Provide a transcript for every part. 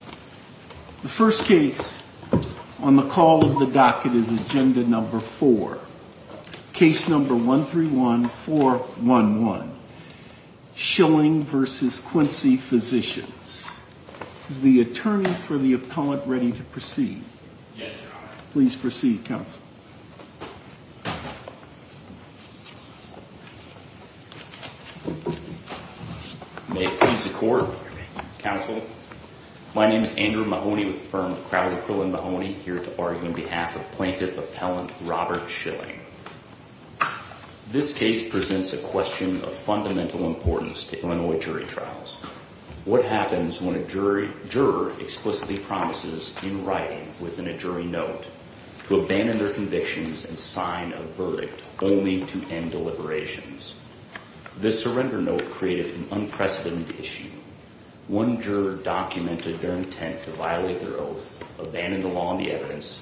The first case on the call of the docket is Agenda No. 4, Case No. 131411, Schilling v. Quincy Physicians. Is the Attorney for the Appellant ready to proceed? Yes, Your Honor. Please proceed, Counsel. May it please the Court, Counsel. My name is Andrew Mahoney with the firm of Crowder, Quill & Mahoney, here to argue on behalf of Plaintiff Appellant Robert Schilling. This case presents a question of fundamental importance to Illinois jury trials. What happens when a juror explicitly promises, in writing, within a jury note, to abandon their convictions and sign a verdict only to end deliberations? This surrender note created an unprecedented issue. One juror documented their intent to violate their oath, abandon the law and the evidence,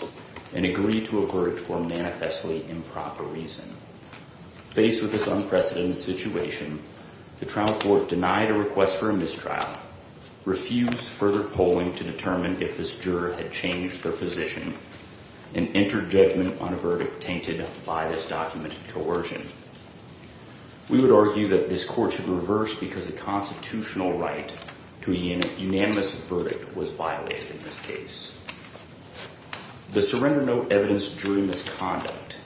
and agree to a verdict for a manifestly improper reason. Faced with this unprecedented situation, the trial court denied a request for a mistrial, refused further polling to determine if this juror had changed their position, and entered judgment on a verdict tainted by this documented coercion. We would argue that this Court should reverse because a constitutional right to a unanimous verdict was violated in this case. The surrender note evidenced jury misconduct.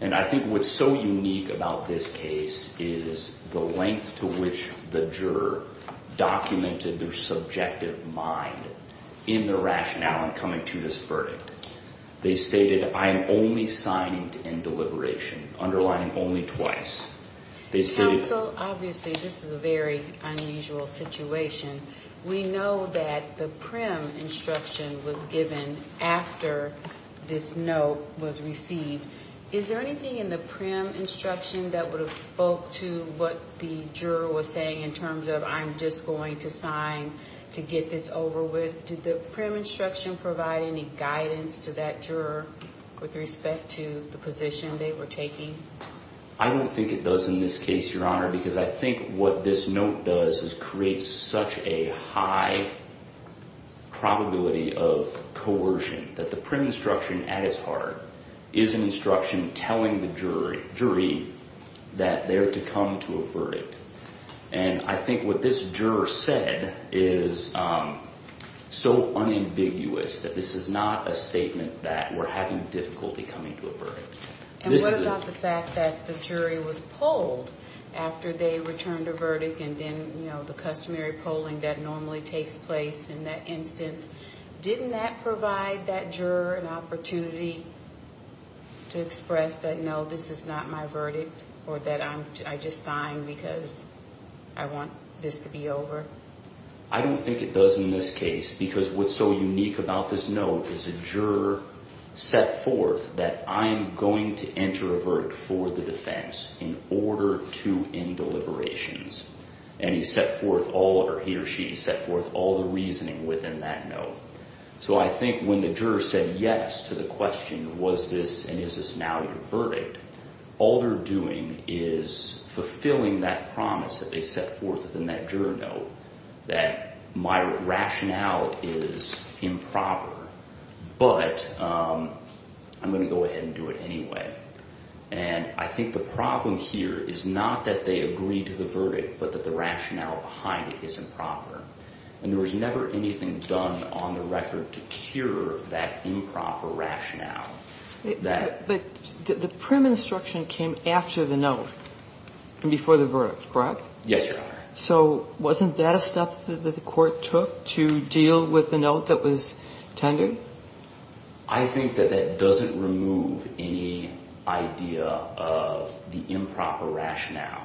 And I think what's so unique about this case is the length to which the juror documented their subjective mind in their rationale in coming to this verdict. They stated, I am only signing to end deliberation, underlining only twice. Counsel, obviously this is a very unusual situation. We know that the prim instruction was given after this note was received. Is there anything in the prim instruction that would have spoke to what the juror was saying in terms of, I'm just going to sign to get this over with? Did the prim instruction provide any guidance to that juror with respect to the position they were taking? I don't think it does in this case, Your Honor, because I think what this note does is create such a high probability of coercion that the prim instruction at its heart is an instruction telling the jury that they're to come to a verdict. And I think what this juror said is so unambiguous that this is not a statement that we're having difficulty coming to a verdict. And what about the fact that the jury was polled after they returned a verdict and then the customary polling that normally takes place in that instance? Didn't that provide that juror an opportunity to express that, no, this is not my verdict or that I just signed because I want this to be over? I don't think it does in this case because what's so unique about this note is the juror set forth that I'm going to enter a verdict for the defense in order to end deliberations. And he set forth all, or he or she set forth all the reasoning within that note. So I think when the juror said yes to the question, was this and is this now your verdict, all they're doing is fulfilling that promise that they set forth within that juror note that my rationale is improper, but I'm going to go ahead and do it anyway. And I think the problem here is not that they agreed to the verdict, but that the rationale behind it is improper. And there was never anything done on the record to cure that improper rationale. But the prim instruction came after the note and before the verdict, correct? Yes, Your Honor. So wasn't that a step that the court took to deal with the note that was tendered? I think that that doesn't remove any idea of the improper rationale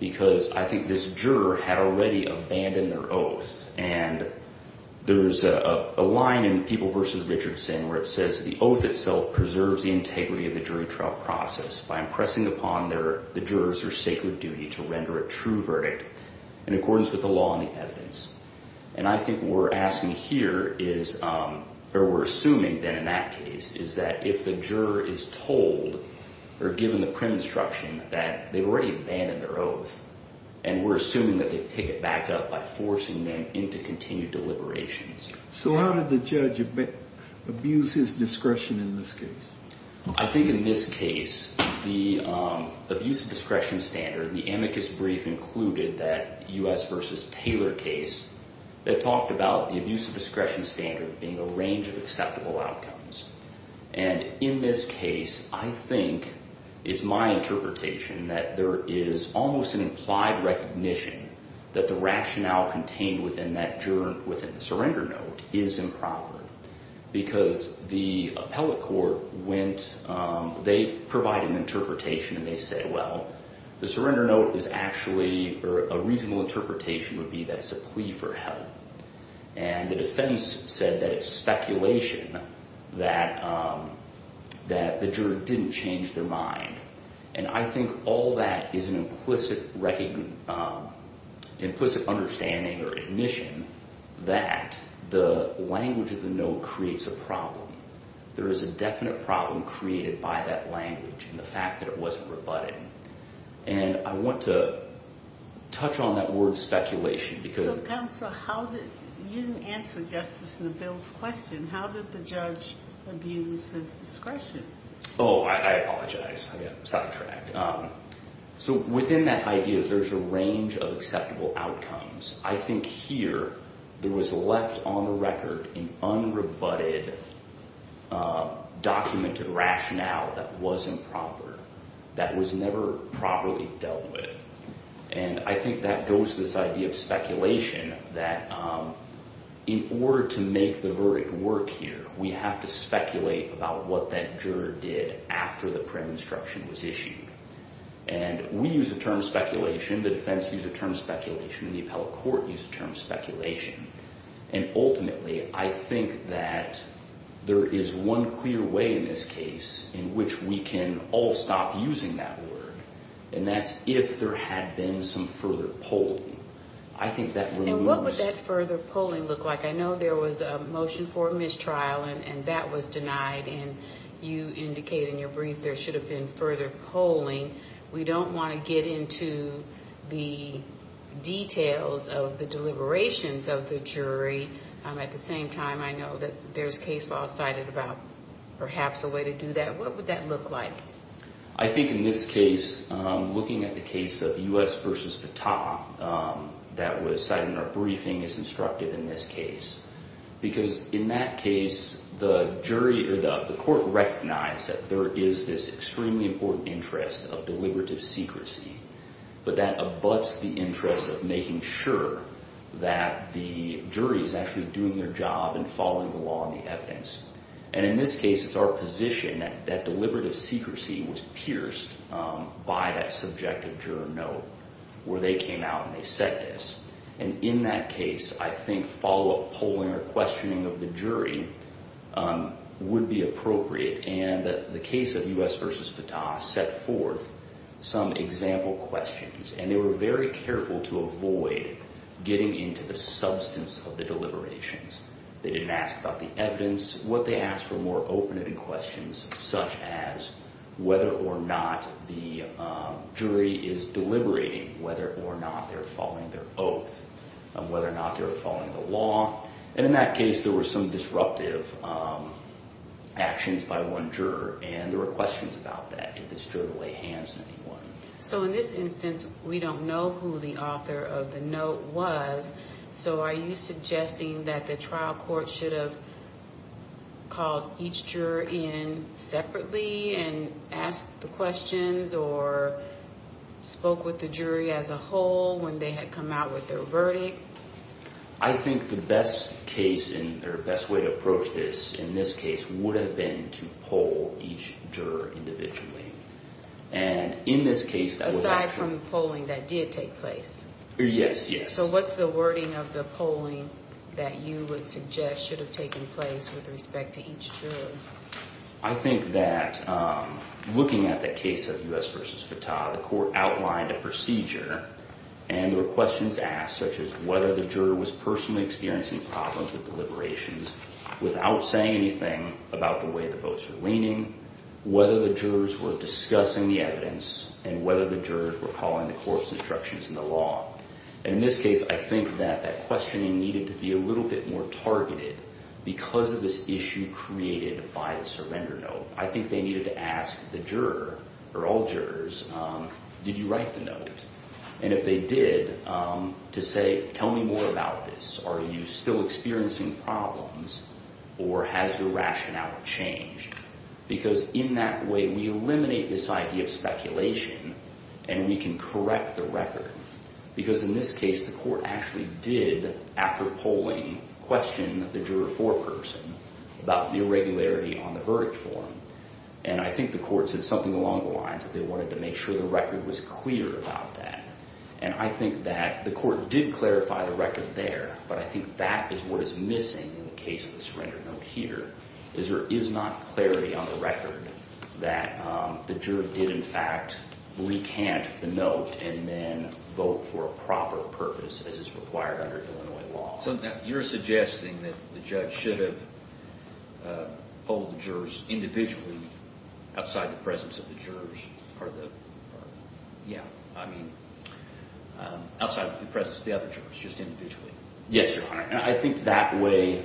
because I think this juror had already abandoned their oath. And there's a line in People v. Richardson where it says the oath itself preserves the integrity of the jury trial process by impressing upon the jurors their sacred duty to render a true verdict in accordance with the law and the evidence. And I think what we're asking here is or we're assuming then in that case is that if the juror is told or given the prim instruction that they've already abandoned their oath and we're assuming that they pick it back up by forcing them into continued deliberations. So how did the judge abuse his discretion in this case? I think in this case the abuse of discretion standard, the amicus brief included that U.S. v. Taylor case that talked about the abuse of discretion standard being a range of acceptable outcomes. And in this case I think it's my interpretation that there is almost an implied recognition that the rationale contained within the surrender note is improper. Because the appellate court went, they provided an interpretation and they said, well, the surrender note is actually or a reasonable interpretation would be that it's a plea for help. And the defense said that it's speculation that the juror didn't change their mind. And I think all that is an implicit understanding or admission that the language of the note creates a problem. There is a definite problem created by that language and the fact that it wasn't rebutting. And I want to touch on that word speculation because Counsel, you didn't answer Justice Neville's question. How did the judge abuse his discretion? Oh, I apologize. I got sidetracked. So within that idea there's a range of acceptable outcomes. I think here there was left on the record an unrebutted documented rationale that wasn't proper, that was never properly dealt with. And I think that goes to this idea of speculation that in order to make the verdict work here, we have to speculate about what that juror did after the prayer instruction was issued. And we use the term speculation, the defense used the term speculation, the appellate court used the term speculation. And ultimately I think that there is one clear way in this case in which we can all stop using that word. And that's if there had been some further polling. And what would that further polling look like? I know there was a motion for mistrial and that was denied and you indicated in your brief there should have been further polling. We don't want to get into the details of the deliberations of the jury. At the same time I know that there's case law cited about perhaps a way to do that. What would that look like? I think in this case looking at the case of U.S. versus Patah that was cited in our briefing is instructive in this case. Because in that case the jury or the court recognized that there is this extremely important interest of deliberative secrecy. But that abuts the interest of making sure that the jury is actually doing their job and following the law and the evidence. And in this case it's our position that deliberative secrecy was pierced by that subjective juror note where they came out and they said this. And in that case I think follow-up polling or questioning of the jury would be appropriate. And the case of U.S. versus Patah set forth some example questions. And they were very careful to avoid getting into the substance of the deliberations. They didn't ask about the evidence. What they asked were more open-ended questions such as whether or not the jury is deliberating whether or not they're following their oath. Whether or not they're following the law. And in that case there were some disruptive actions by one juror and there were questions about that. Did this juror lay hands on anyone? So in this instance we don't know who the author of the note was. So are you suggesting that the trial court should have called each juror in separately and asked the questions or spoke with the jury as a whole when they had come out with their verdict? I think the best case or best way to approach this in this case would have been to poll each juror individually. Aside from the polling that did take place? Yes, yes. So what's the wording of the polling that you would suggest should have taken place with respect to each juror? I think that looking at the case of U.S. versus Patah, the court outlined a procedure. And there were questions asked such as whether the juror was personally experiencing problems with deliberations without saying anything about the way the votes were leaning. Whether the jurors were discussing the evidence and whether the jurors were calling the court's instructions in the law. And in this case I think that that questioning needed to be a little bit more targeted because of this issue created by the surrender note. I think they needed to ask the juror or all jurors, did you write the note? And if they did, to say, tell me more about this. Are you still experiencing problems or has your rationale changed? Because in that way we eliminate this idea of speculation and we can correct the record. Because in this case the court actually did, after polling, question the juror foreperson about the irregularity on the verdict form. And I think the court said something along the lines that they wanted to make sure the record was clear about that. And I think that the court did clarify the record there. But I think that is what is missing in the case of the surrender note here. Is there is not clarity on the record that the juror did in fact recant the note and then vote for a proper purpose as is required under Illinois law. So you're suggesting that the judge should have polled the jurors individually outside the presence of the jurors. Or the, yeah, I mean, outside the presence of the other jurors, just individually. Yes, Your Honor. And I think that way,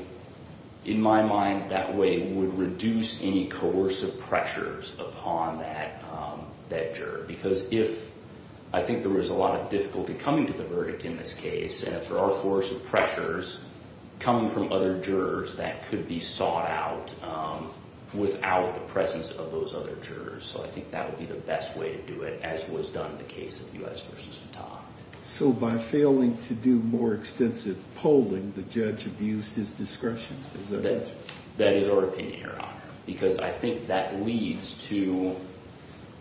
in my mind, that way would reduce any coercive pressures upon that juror. Because if, I think there was a lot of difficulty coming to the verdict in this case. And if there are coercive pressures coming from other jurors that could be sought out without the presence of those other jurors. So I think that would be the best way to do it, as was done in the case of U.S. v. Patak. So by failing to do more extensive polling, the judge abused his discretion. That is our opinion, Your Honor. Because I think that leads to,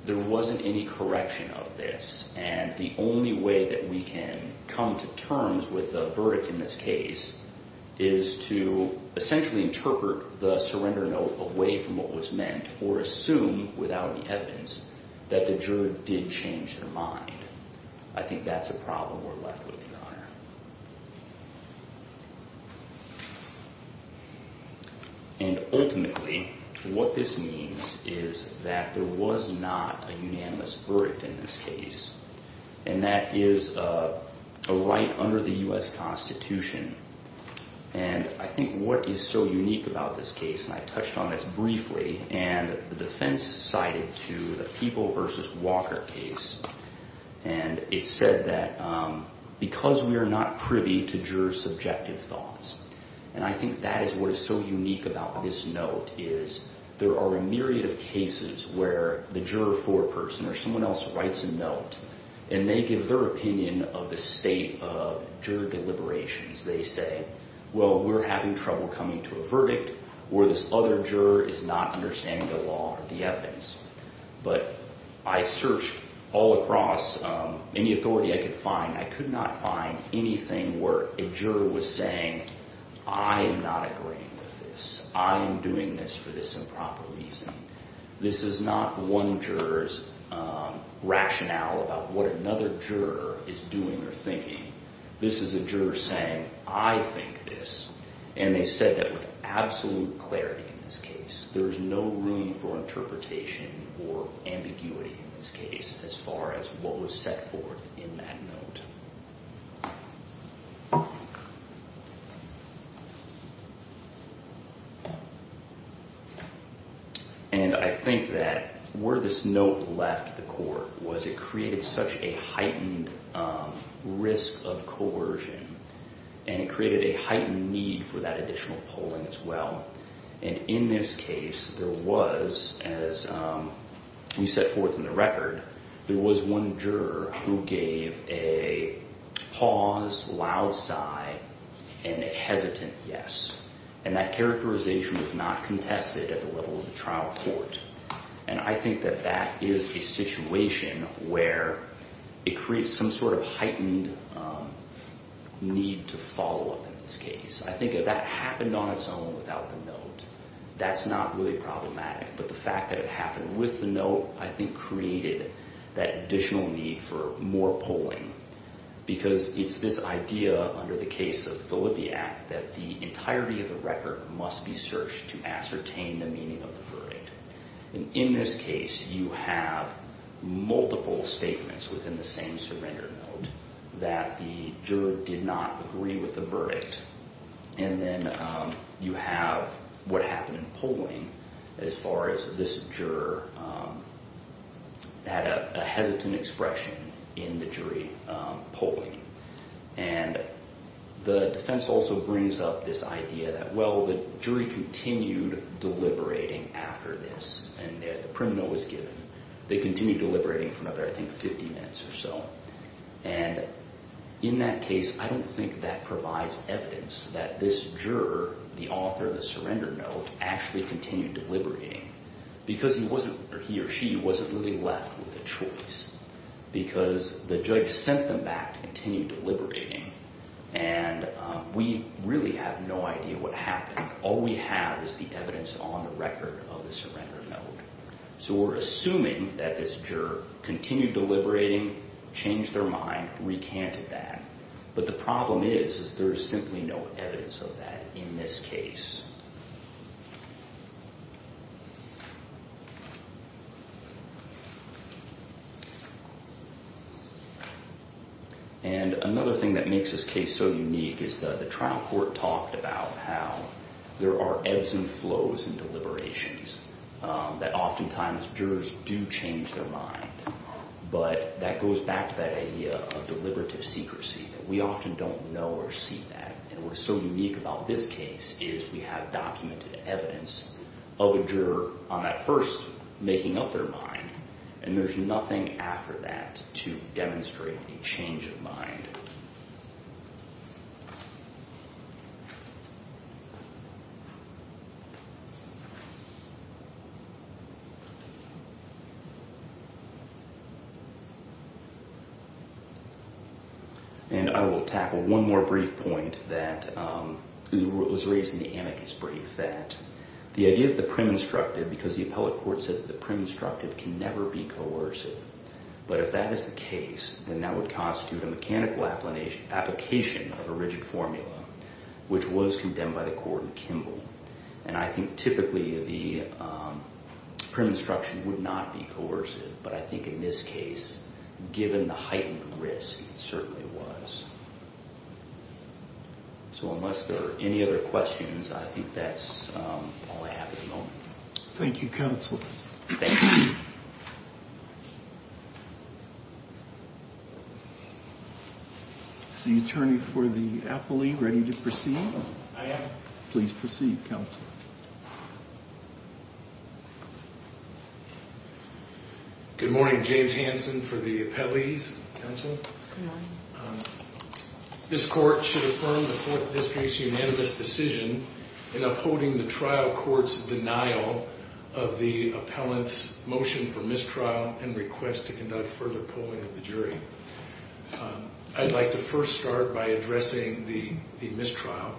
there wasn't any correction of this. And the only way that we can come to terms with the verdict in this case is to essentially interpret the surrender note away from what was meant. Or assume, without any evidence, that the juror did change their mind. I think that's a problem we're left with, Your Honor. And ultimately, what this means is that there was not a unanimous verdict in this case. And that is a right under the U.S. Constitution. And I think what is so unique about this case, and I touched on this briefly. And the defense cited to the People v. Walker case. And it said that because we are not privy to jurors' subjective thoughts. And I think that is what is so unique about this note, is there are a myriad of cases where the juror foreperson or someone else writes a note. And they give their opinion of the state of juror deliberations. They say, well, we're having trouble coming to a verdict. Or this other juror is not understanding the law or the evidence. But I searched all across any authority I could find. I could not find anything where a juror was saying, I am not agreeing with this. I am doing this for this improper reason. This is not one juror's rationale about what another juror is doing or thinking. This is a juror saying, I think this. And they said that with absolute clarity in this case, there is no room for interpretation or ambiguity in this case as far as what was set forth in that note. And I think that where this note left the court was it created such a heightened risk of coercion. And it created a heightened need for that additional polling as well. And in this case, there was, as we set forth in the record, there was one juror who gave a paused, loud sigh and a hesitant yes. And that characterization was not contested at the level of the trial court. And I think that that is a situation where it creates some sort of heightened need to follow up in this case. I think if that happened on its own without the note, that's not really problematic. But the fact that it happened with the note, I think, created that additional need for more polling. Because it's this idea under the case of Filippi Act that the entirety of the record must be searched to ascertain the meaning of the verdict. And in this case, you have multiple statements within the same surrender note that the juror did not agree with the verdict. And then you have what happened in polling as far as this juror had a hesitant expression in the jury polling. And the defense also brings up this idea that, well, the jury continued deliberating after this and the criminal was given. They continued deliberating for another, I think, 50 minutes or so. And in that case, I don't think that provides evidence that this juror, the author of the surrender note, actually continued deliberating. Because he or she wasn't really left with a choice. Because the judge sent them back to continue deliberating. And we really have no idea what happened. All we have is the evidence on the record of the surrender note. So we're assuming that this juror continued deliberating, changed their mind, recanted that. But the problem is is there's simply no evidence of that in this case. And another thing that makes this case so unique is the trial court talked about how there are ebbs and flows in deliberations, that oftentimes jurors do change their mind. But that goes back to that idea of deliberative secrecy. We often don't know or see that. And what is so unique about this case is we have documented evidence of a juror on that first making up their mind. And there's nothing after that to demonstrate a change of mind. And I will tackle one more brief point that was raised in the amicus brief, that the idea of the prim instructive, because the appellate court said that the prim instructive can never be coercive. But if that is the case, then that would constitute a mechanical application of a rigid formula, which was condemned by the court in Kimball. And I think typically the prim instruction would not be coercive. But I think in this case, given the heightened risk, it certainly was. So unless there are any other questions, I think that's all I have at the moment. Thank you, counsel. Is the attorney for the appellee ready to proceed? I am. Please proceed, counsel. Good morning. James Hansen for the appellees. This court should affirm the Fourth District's unanimous decision in upholding the trial court's denial of the appellant's motion for mistrial and request to conduct further polling of the jury. I'd like to first start by addressing the mistrial.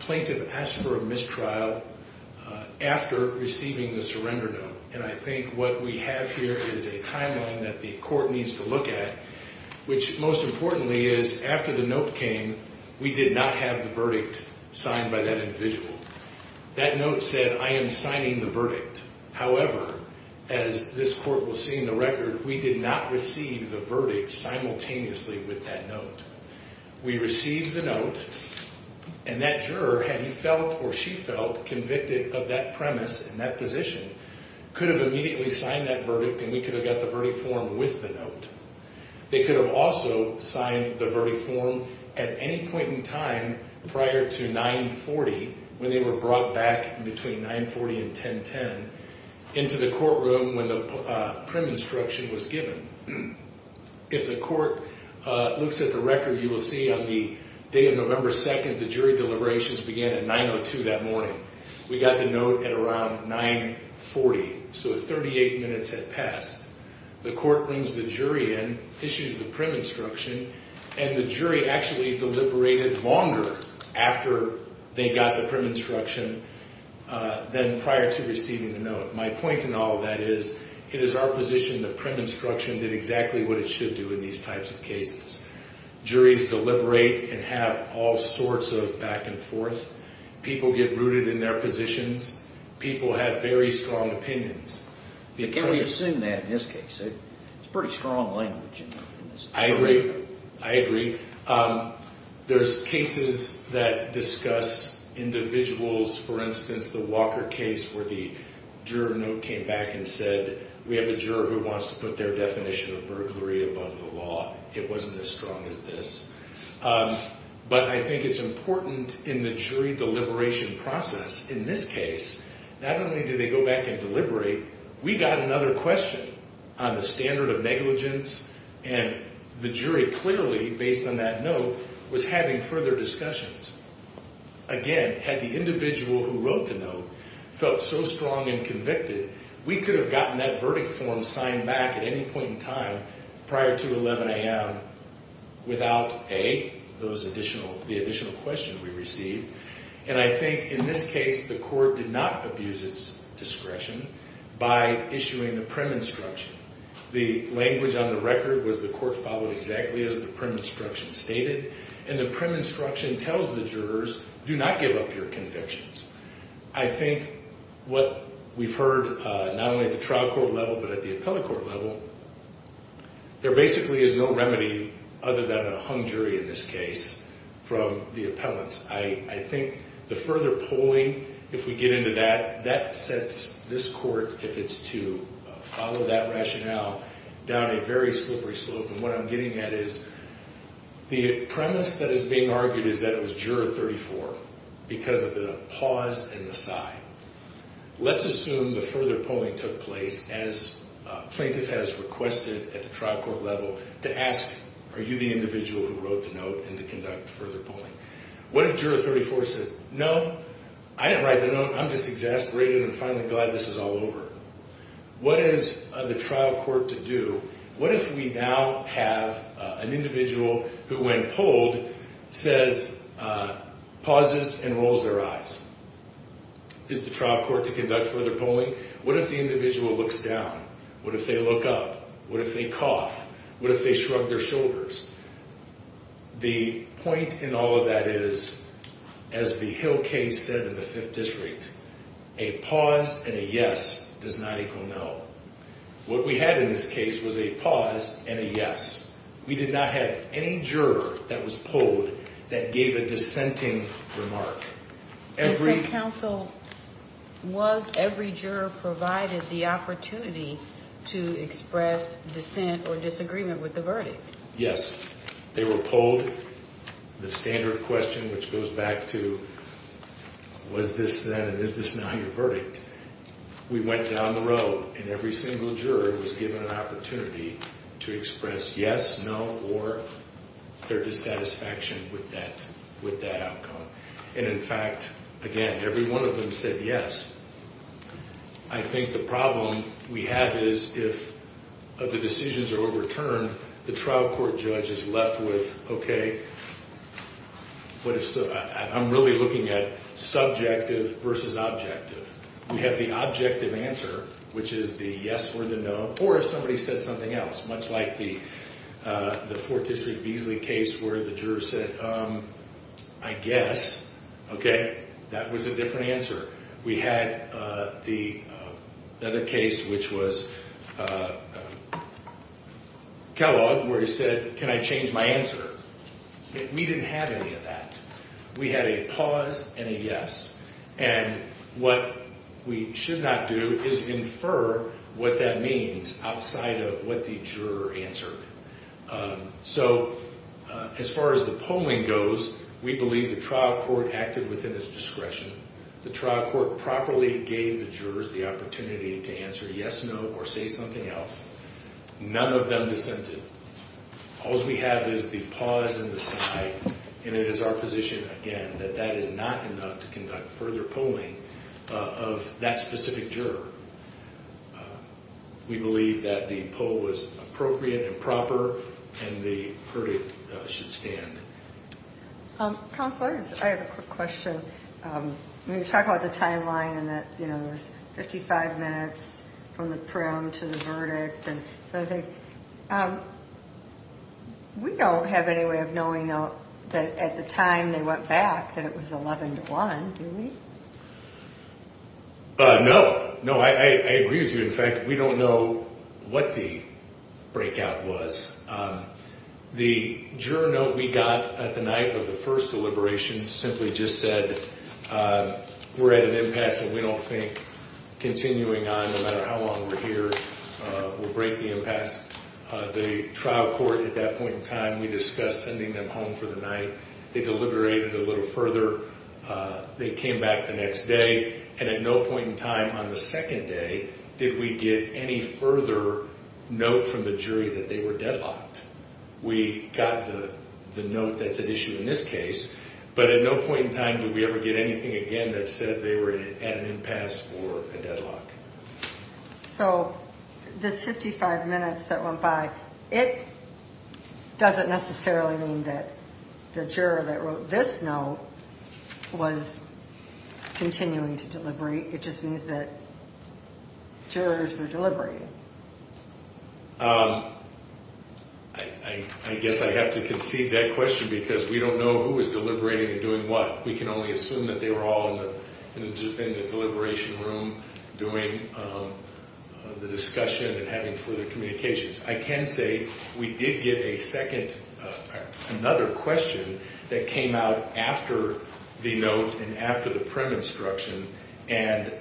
Plaintiff asked for a mistrial after receiving the surrender note. And I think what we have here is a timeline that the court needs to look at, which most importantly is after the note came, we did not have the verdict signed by that individual. That note said, I am signing the verdict. However, as this court will see in the record, we did not receive the verdict simultaneously with that note. We received the note, and that juror, had he felt or she felt convicted of that premise in that position, could have immediately signed that verdict, and we could have got the verdict form with the note. They could have also signed the verdict form at any point in time prior to 9-40, when they were brought back in between 9-40 and 10-10, into the courtroom when the prim instruction was given. If the court looks at the record, you will see on the day of November 2nd, the jury deliberations began at 9-02 that morning. We got the note at around 9-40, so 38 minutes had passed. The court brings the jury in, issues the prim instruction, and the jury actually deliberated longer after they got the prim instruction than prior to receiving the note. My point in all of that is, it is our position that prim instruction did exactly what it should do in these types of cases. Juries deliberate and have all sorts of back and forth. People get rooted in their positions. People have very strong opinions. Can we assume that in this case? It's pretty strong language. I agree. There's cases that discuss individuals, for instance, the Walker case where the juror note came back and said, we have a juror who wants to put their definition of burglary above the law. It wasn't as strong as this. But I think it's important in the jury deliberation process, in this case, not only do they go back and deliberate, we got another question on the standard of negligence. And the jury clearly, based on that note, was having further discussions. Again, had the individual who wrote the note felt so strong and convicted, we could have gotten that verdict form signed back at any point in time prior to 11 a.m. without A, the additional question we received. And I think in this case, the court did not abuse its discretion by issuing the prim instruction. The language on the record was the court followed exactly as the prim instruction stated. And the prim instruction tells the jurors, do not give up your convictions. I think what we've heard, not only at the trial court level, but at the appellate court level, there basically is no remedy other than a hung jury in this case from the appellants. I think the further polling, if we get into that, that sets this court, if it's to follow that rationale, down a very slippery slope. And what I'm getting at is the premise that is being argued is that it was juror 34 because of the pause and the sigh. Let's assume the further polling took place as plaintiff has requested at the trial court level to ask, are you the individual who wrote the note and to conduct further polling? What if juror 34 said, no, I didn't write the note. I'm just exasperated and finally glad this is all over. What is the trial court to do? What if we now have an individual who, when polled, says, pauses and rolls their eyes? Is the trial court to conduct further polling? What if the individual looks down? What if they look up? What if they cough? What if they shrug their shoulders? The point in all of that is, as the Hill case said in the Fifth District, a pause and a yes does not equal no. What we had in this case was a pause and a yes. We did not have any juror that was polled that gave a dissenting remark. And so counsel, was every juror provided the opportunity to express dissent or disagreement with the verdict? Yes. They were polled. The standard question, which goes back to, was this then and is this now your verdict? We went down the road, and every single juror was given an opportunity to express yes, no, or their dissatisfaction with that outcome. And, in fact, again, every one of them said yes. I think the problem we have is if the decisions are overturned, the trial court judge is left with, okay, I'm really looking at subjective versus objective. We have the objective answer, which is the yes or the no, or if somebody said something else, much like the Fourth District Beasley case where the juror said, I guess, okay, that was a different answer. We had the other case, which was Kellogg, where he said, can I change my answer? We didn't have any of that. We had a pause and a yes. And what we should not do is infer what that means outside of what the juror answered. So as far as the polling goes, we believe the trial court acted within its discretion. The trial court properly gave the jurors the opportunity to answer yes, no, or say something else. None of them dissented. All we have is the pause and the sigh, and it is our position, again, that that is not enough to conduct further polling of that specific juror. We believe that the poll was appropriate and proper, and the verdict should stand. Counselors, I have a quick question. When you talk about the timeline and that, you know, it was 55 minutes from the prim to the verdict and other things, we don't have any way of knowing, though, that at the time they went back that it was 11 to 1, do we? No. No, I agree with you. In fact, we don't know what the breakout was. The juror note we got at the night of the first deliberation simply just said we're at an impasse and we don't think continuing on, no matter how long we're here, will break the impasse. The trial court at that point in time, we discussed sending them home for the night. They deliberated a little further. They came back the next day, and at no point in time on the second day did we get any further note from the jury that they were deadlocked. We got the note that's at issue in this case, but at no point in time did we ever get anything again that said they were at an impasse or a deadlock. So this 55 minutes that went by, it doesn't necessarily mean that the juror that wrote this note was continuing to deliberate. It just means that jurors were deliberating. I guess I have to concede that question because we don't know who was deliberating and doing what. We can only assume that they were all in the deliberation room doing the discussion and having further communications. I can say we did get a second, another question that came out after the note and after the prim instruction, and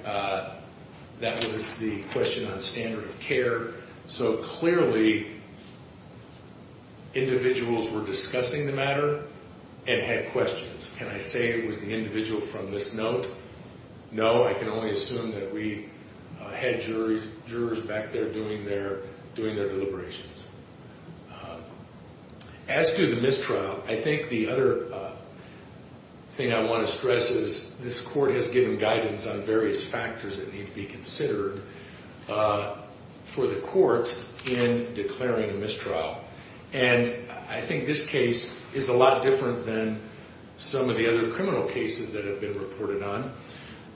that was the question on standard of care. So clearly, individuals were discussing the matter and had questions. Can I say it was the individual from this note? No, I can only assume that we had jurors back there doing their deliberations. As to the mistrial, I think the other thing I want to stress is this court has given guidance on various factors that need to be considered for the court in declaring a mistrial. And I think this case is a lot different than some of the other criminal cases that have been reported on.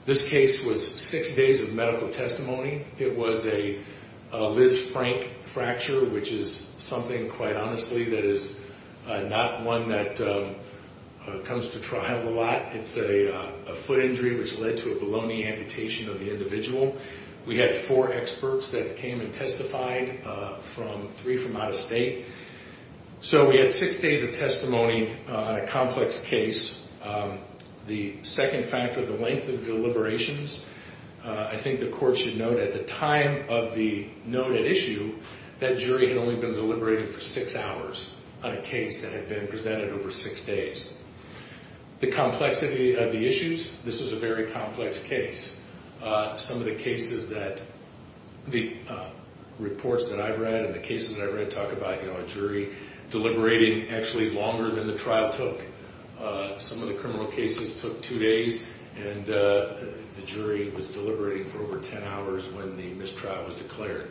This case was six days of medical testimony. It was a Liz Frank fracture, which is something, quite honestly, that is not one that comes to trial a lot. It's a foot injury which led to a bologna amputation of the individual. We had four experts that came and testified, three from out of state. So we had six days of testimony on a complex case. The second factor, the length of deliberations, I think the court should note at the time of the noted issue, that jury had only been deliberating for six hours on a case that had been presented over six days. The complexity of the issues, this was a very complex case. Some of the cases that the reports that I've read and the cases that I've read talk about, you know, deliberating actually longer than the trial took. Some of the criminal cases took two days, and the jury was deliberating for over ten hours when the mistrial was declared.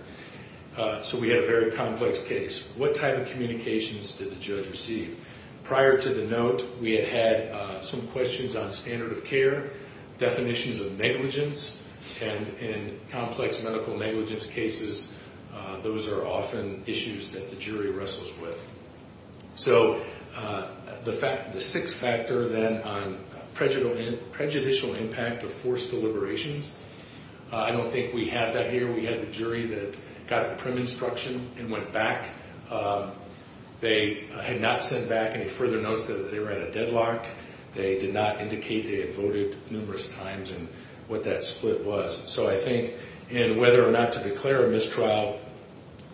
So we had a very complex case. What type of communications did the judge receive? Prior to the note, we had had some questions on standard of care, definitions of negligence, and in complex medical negligence cases, those are often issues that the jury wrestles with. So the six factor then on prejudicial impact of forced deliberations, I don't think we had that here. We had the jury that got the prim instruction and went back. They had not sent back any further notes that they were at a deadlock. They did not indicate they had voted numerous times and what that split was. So I think in whether or not to declare a mistrial,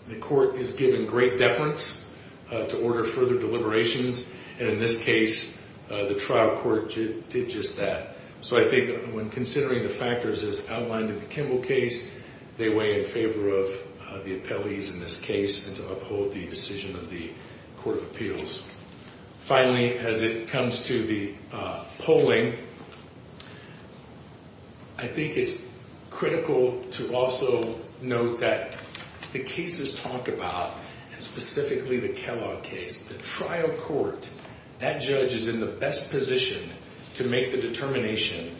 the court is given great deference to order further deliberations, and in this case, the trial court did just that. So I think when considering the factors as outlined in the Kimball case, they weigh in favor of the appellees in this case and to uphold the decision of the Court of Appeals. Finally, as it comes to the polling, I think it's critical to also note that the cases talked about, and specifically the Kellogg case, the trial court, that judge is in the best position to make the determination,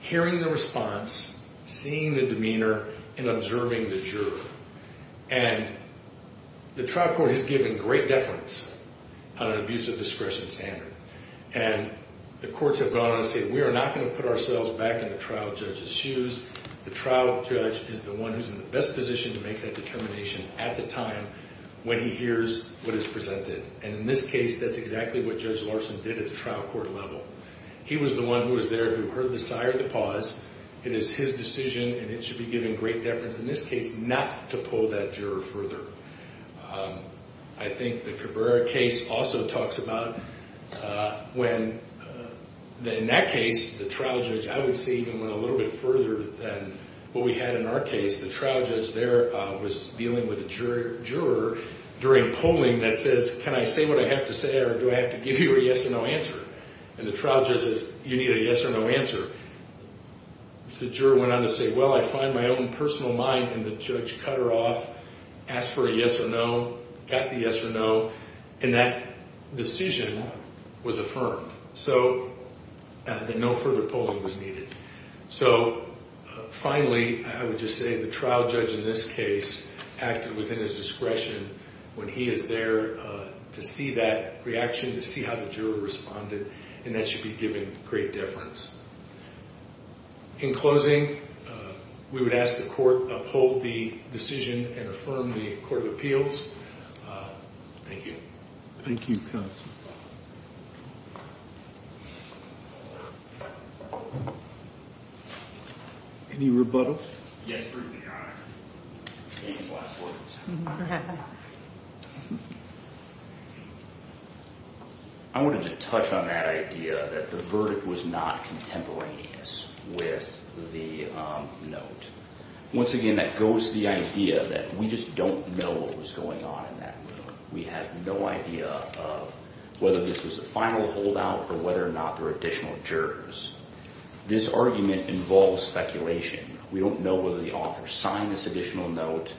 hearing the response, seeing the demeanor, and observing the juror. And the trial court has given great deference on an abuse of discretion standard. And the courts have gone on to say, we are not going to put ourselves back in the trial judge's shoes. The trial judge is the one who's in the best position to make that determination at the time when he hears what is presented. And in this case, that's exactly what Judge Larson did at the trial court level. He was the one who was there who heard the sire to pause. It is his decision, and it should be given great deference. In this case, not to pull that juror further. I think the Cabrera case also talks about when, in that case, the trial judge, I would say, even went a little bit further than what we had in our case. The trial judge there was dealing with a juror during polling that says, can I say what I have to say or do I have to give you a yes or no answer? And the trial judge says, you need a yes or no answer. The juror went on to say, well, I find my own personal mind. And the judge cut her off, asked for a yes or no, got the yes or no. And that decision was affirmed. So no further polling was needed. So finally, I would just say the trial judge in this case acted within his discretion when he is there to see that reaction, to see how the juror responded. And that should be given great deference. In closing, we would ask the court uphold the decision and affirm the court of appeals. Thank you. Thank you, counsel. Any rebuttals? Yes, Your Honor. Any last words? I wanted to touch on that idea that the verdict was not contemporaneous with the note. Once again, that goes to the idea that we just don't know what was going on in that note. We have no idea of whether this was a final holdout or whether or not there were additional jurors. This argument involves speculation. We don't know whether the author signed this additional note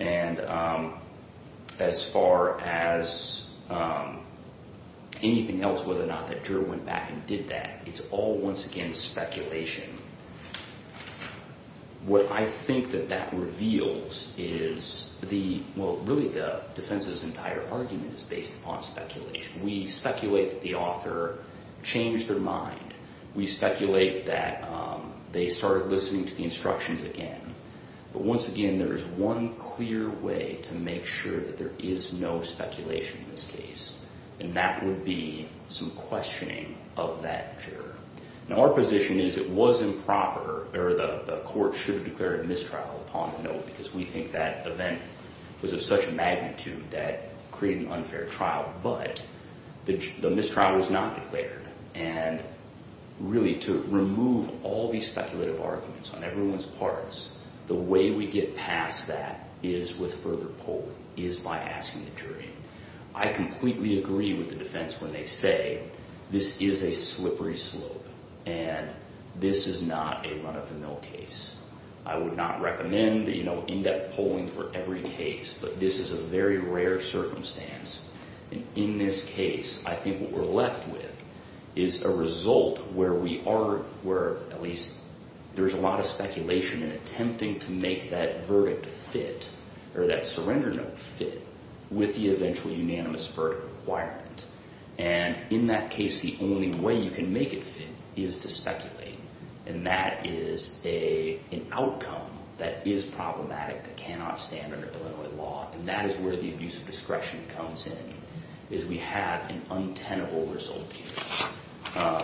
and as far as anything else, whether or not the juror went back and did that, it's all, once again, speculation. What I think that that reveals is the—well, really the defense's entire argument is based upon speculation. We speculate that the author changed their mind. We speculate that they started listening to the instructions again. But once again, there is one clear way to make sure that there is no speculation in this case, and that would be some questioning of that juror. Now, our position is it was improper, or the court should have declared a mistrial upon the note because we think that event was of such a magnitude that created an unfair trial, but the mistrial was not declared. And really to remove all these speculative arguments on everyone's parts, the way we get past that is with further polling, is by asking the jury. I completely agree with the defense when they say this is a slippery slope and this is not a run-of-the-mill case. I would not recommend in-depth polling for every case, but this is a very rare circumstance. In this case, I think what we're left with is a result where we are— where at least there's a lot of speculation in attempting to make that verdict fit or that surrender note fit with the eventual unanimous verdict requirement. And in that case, the only way you can make it fit is to speculate, and that is an outcome that is problematic, that cannot stand under Illinois law, and that is where the abuse of discretion comes in, is we have an untenable result here.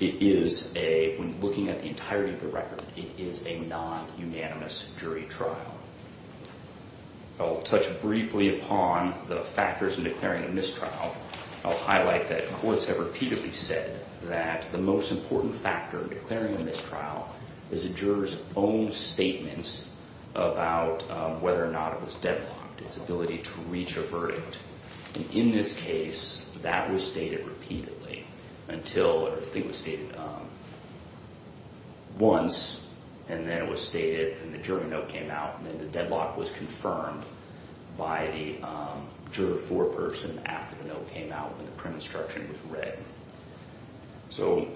It is a—when looking at the entirety of the record, it is a non-unanimous jury trial. I'll touch briefly upon the factors in declaring a mistrial. I'll highlight that courts have repeatedly said that the most important factor in declaring a mistrial is a juror's own statements about whether or not it was deadlocked, its ability to reach a verdict. And in this case, that was stated repeatedly until—I think it was stated once, and then it was stated and the jury note came out, and then the deadlock was confirmed by the juror foreperson after the note came out and the print instruction was read. So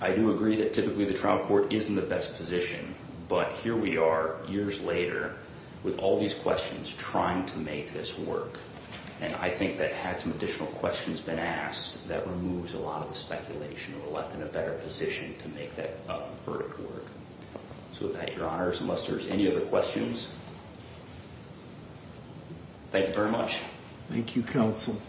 I do agree that typically the trial court is in the best position, but here we are years later with all these questions trying to make this work, and I think that had some additional questions been asked, that removes a lot of the speculation and we're left in a better position to make that verdict work. So with that, Your Honors, unless there's any other questions, thank you very much. Thank you, counsel.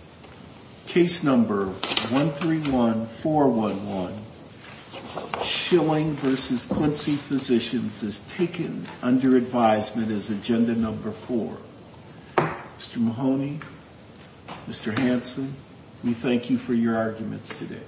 Case number 131411, Schilling v. Quincy Physicians, is taken under advisement as agenda number four. Mr. Mahoney, Mr. Hanson, we thank you for your arguments today.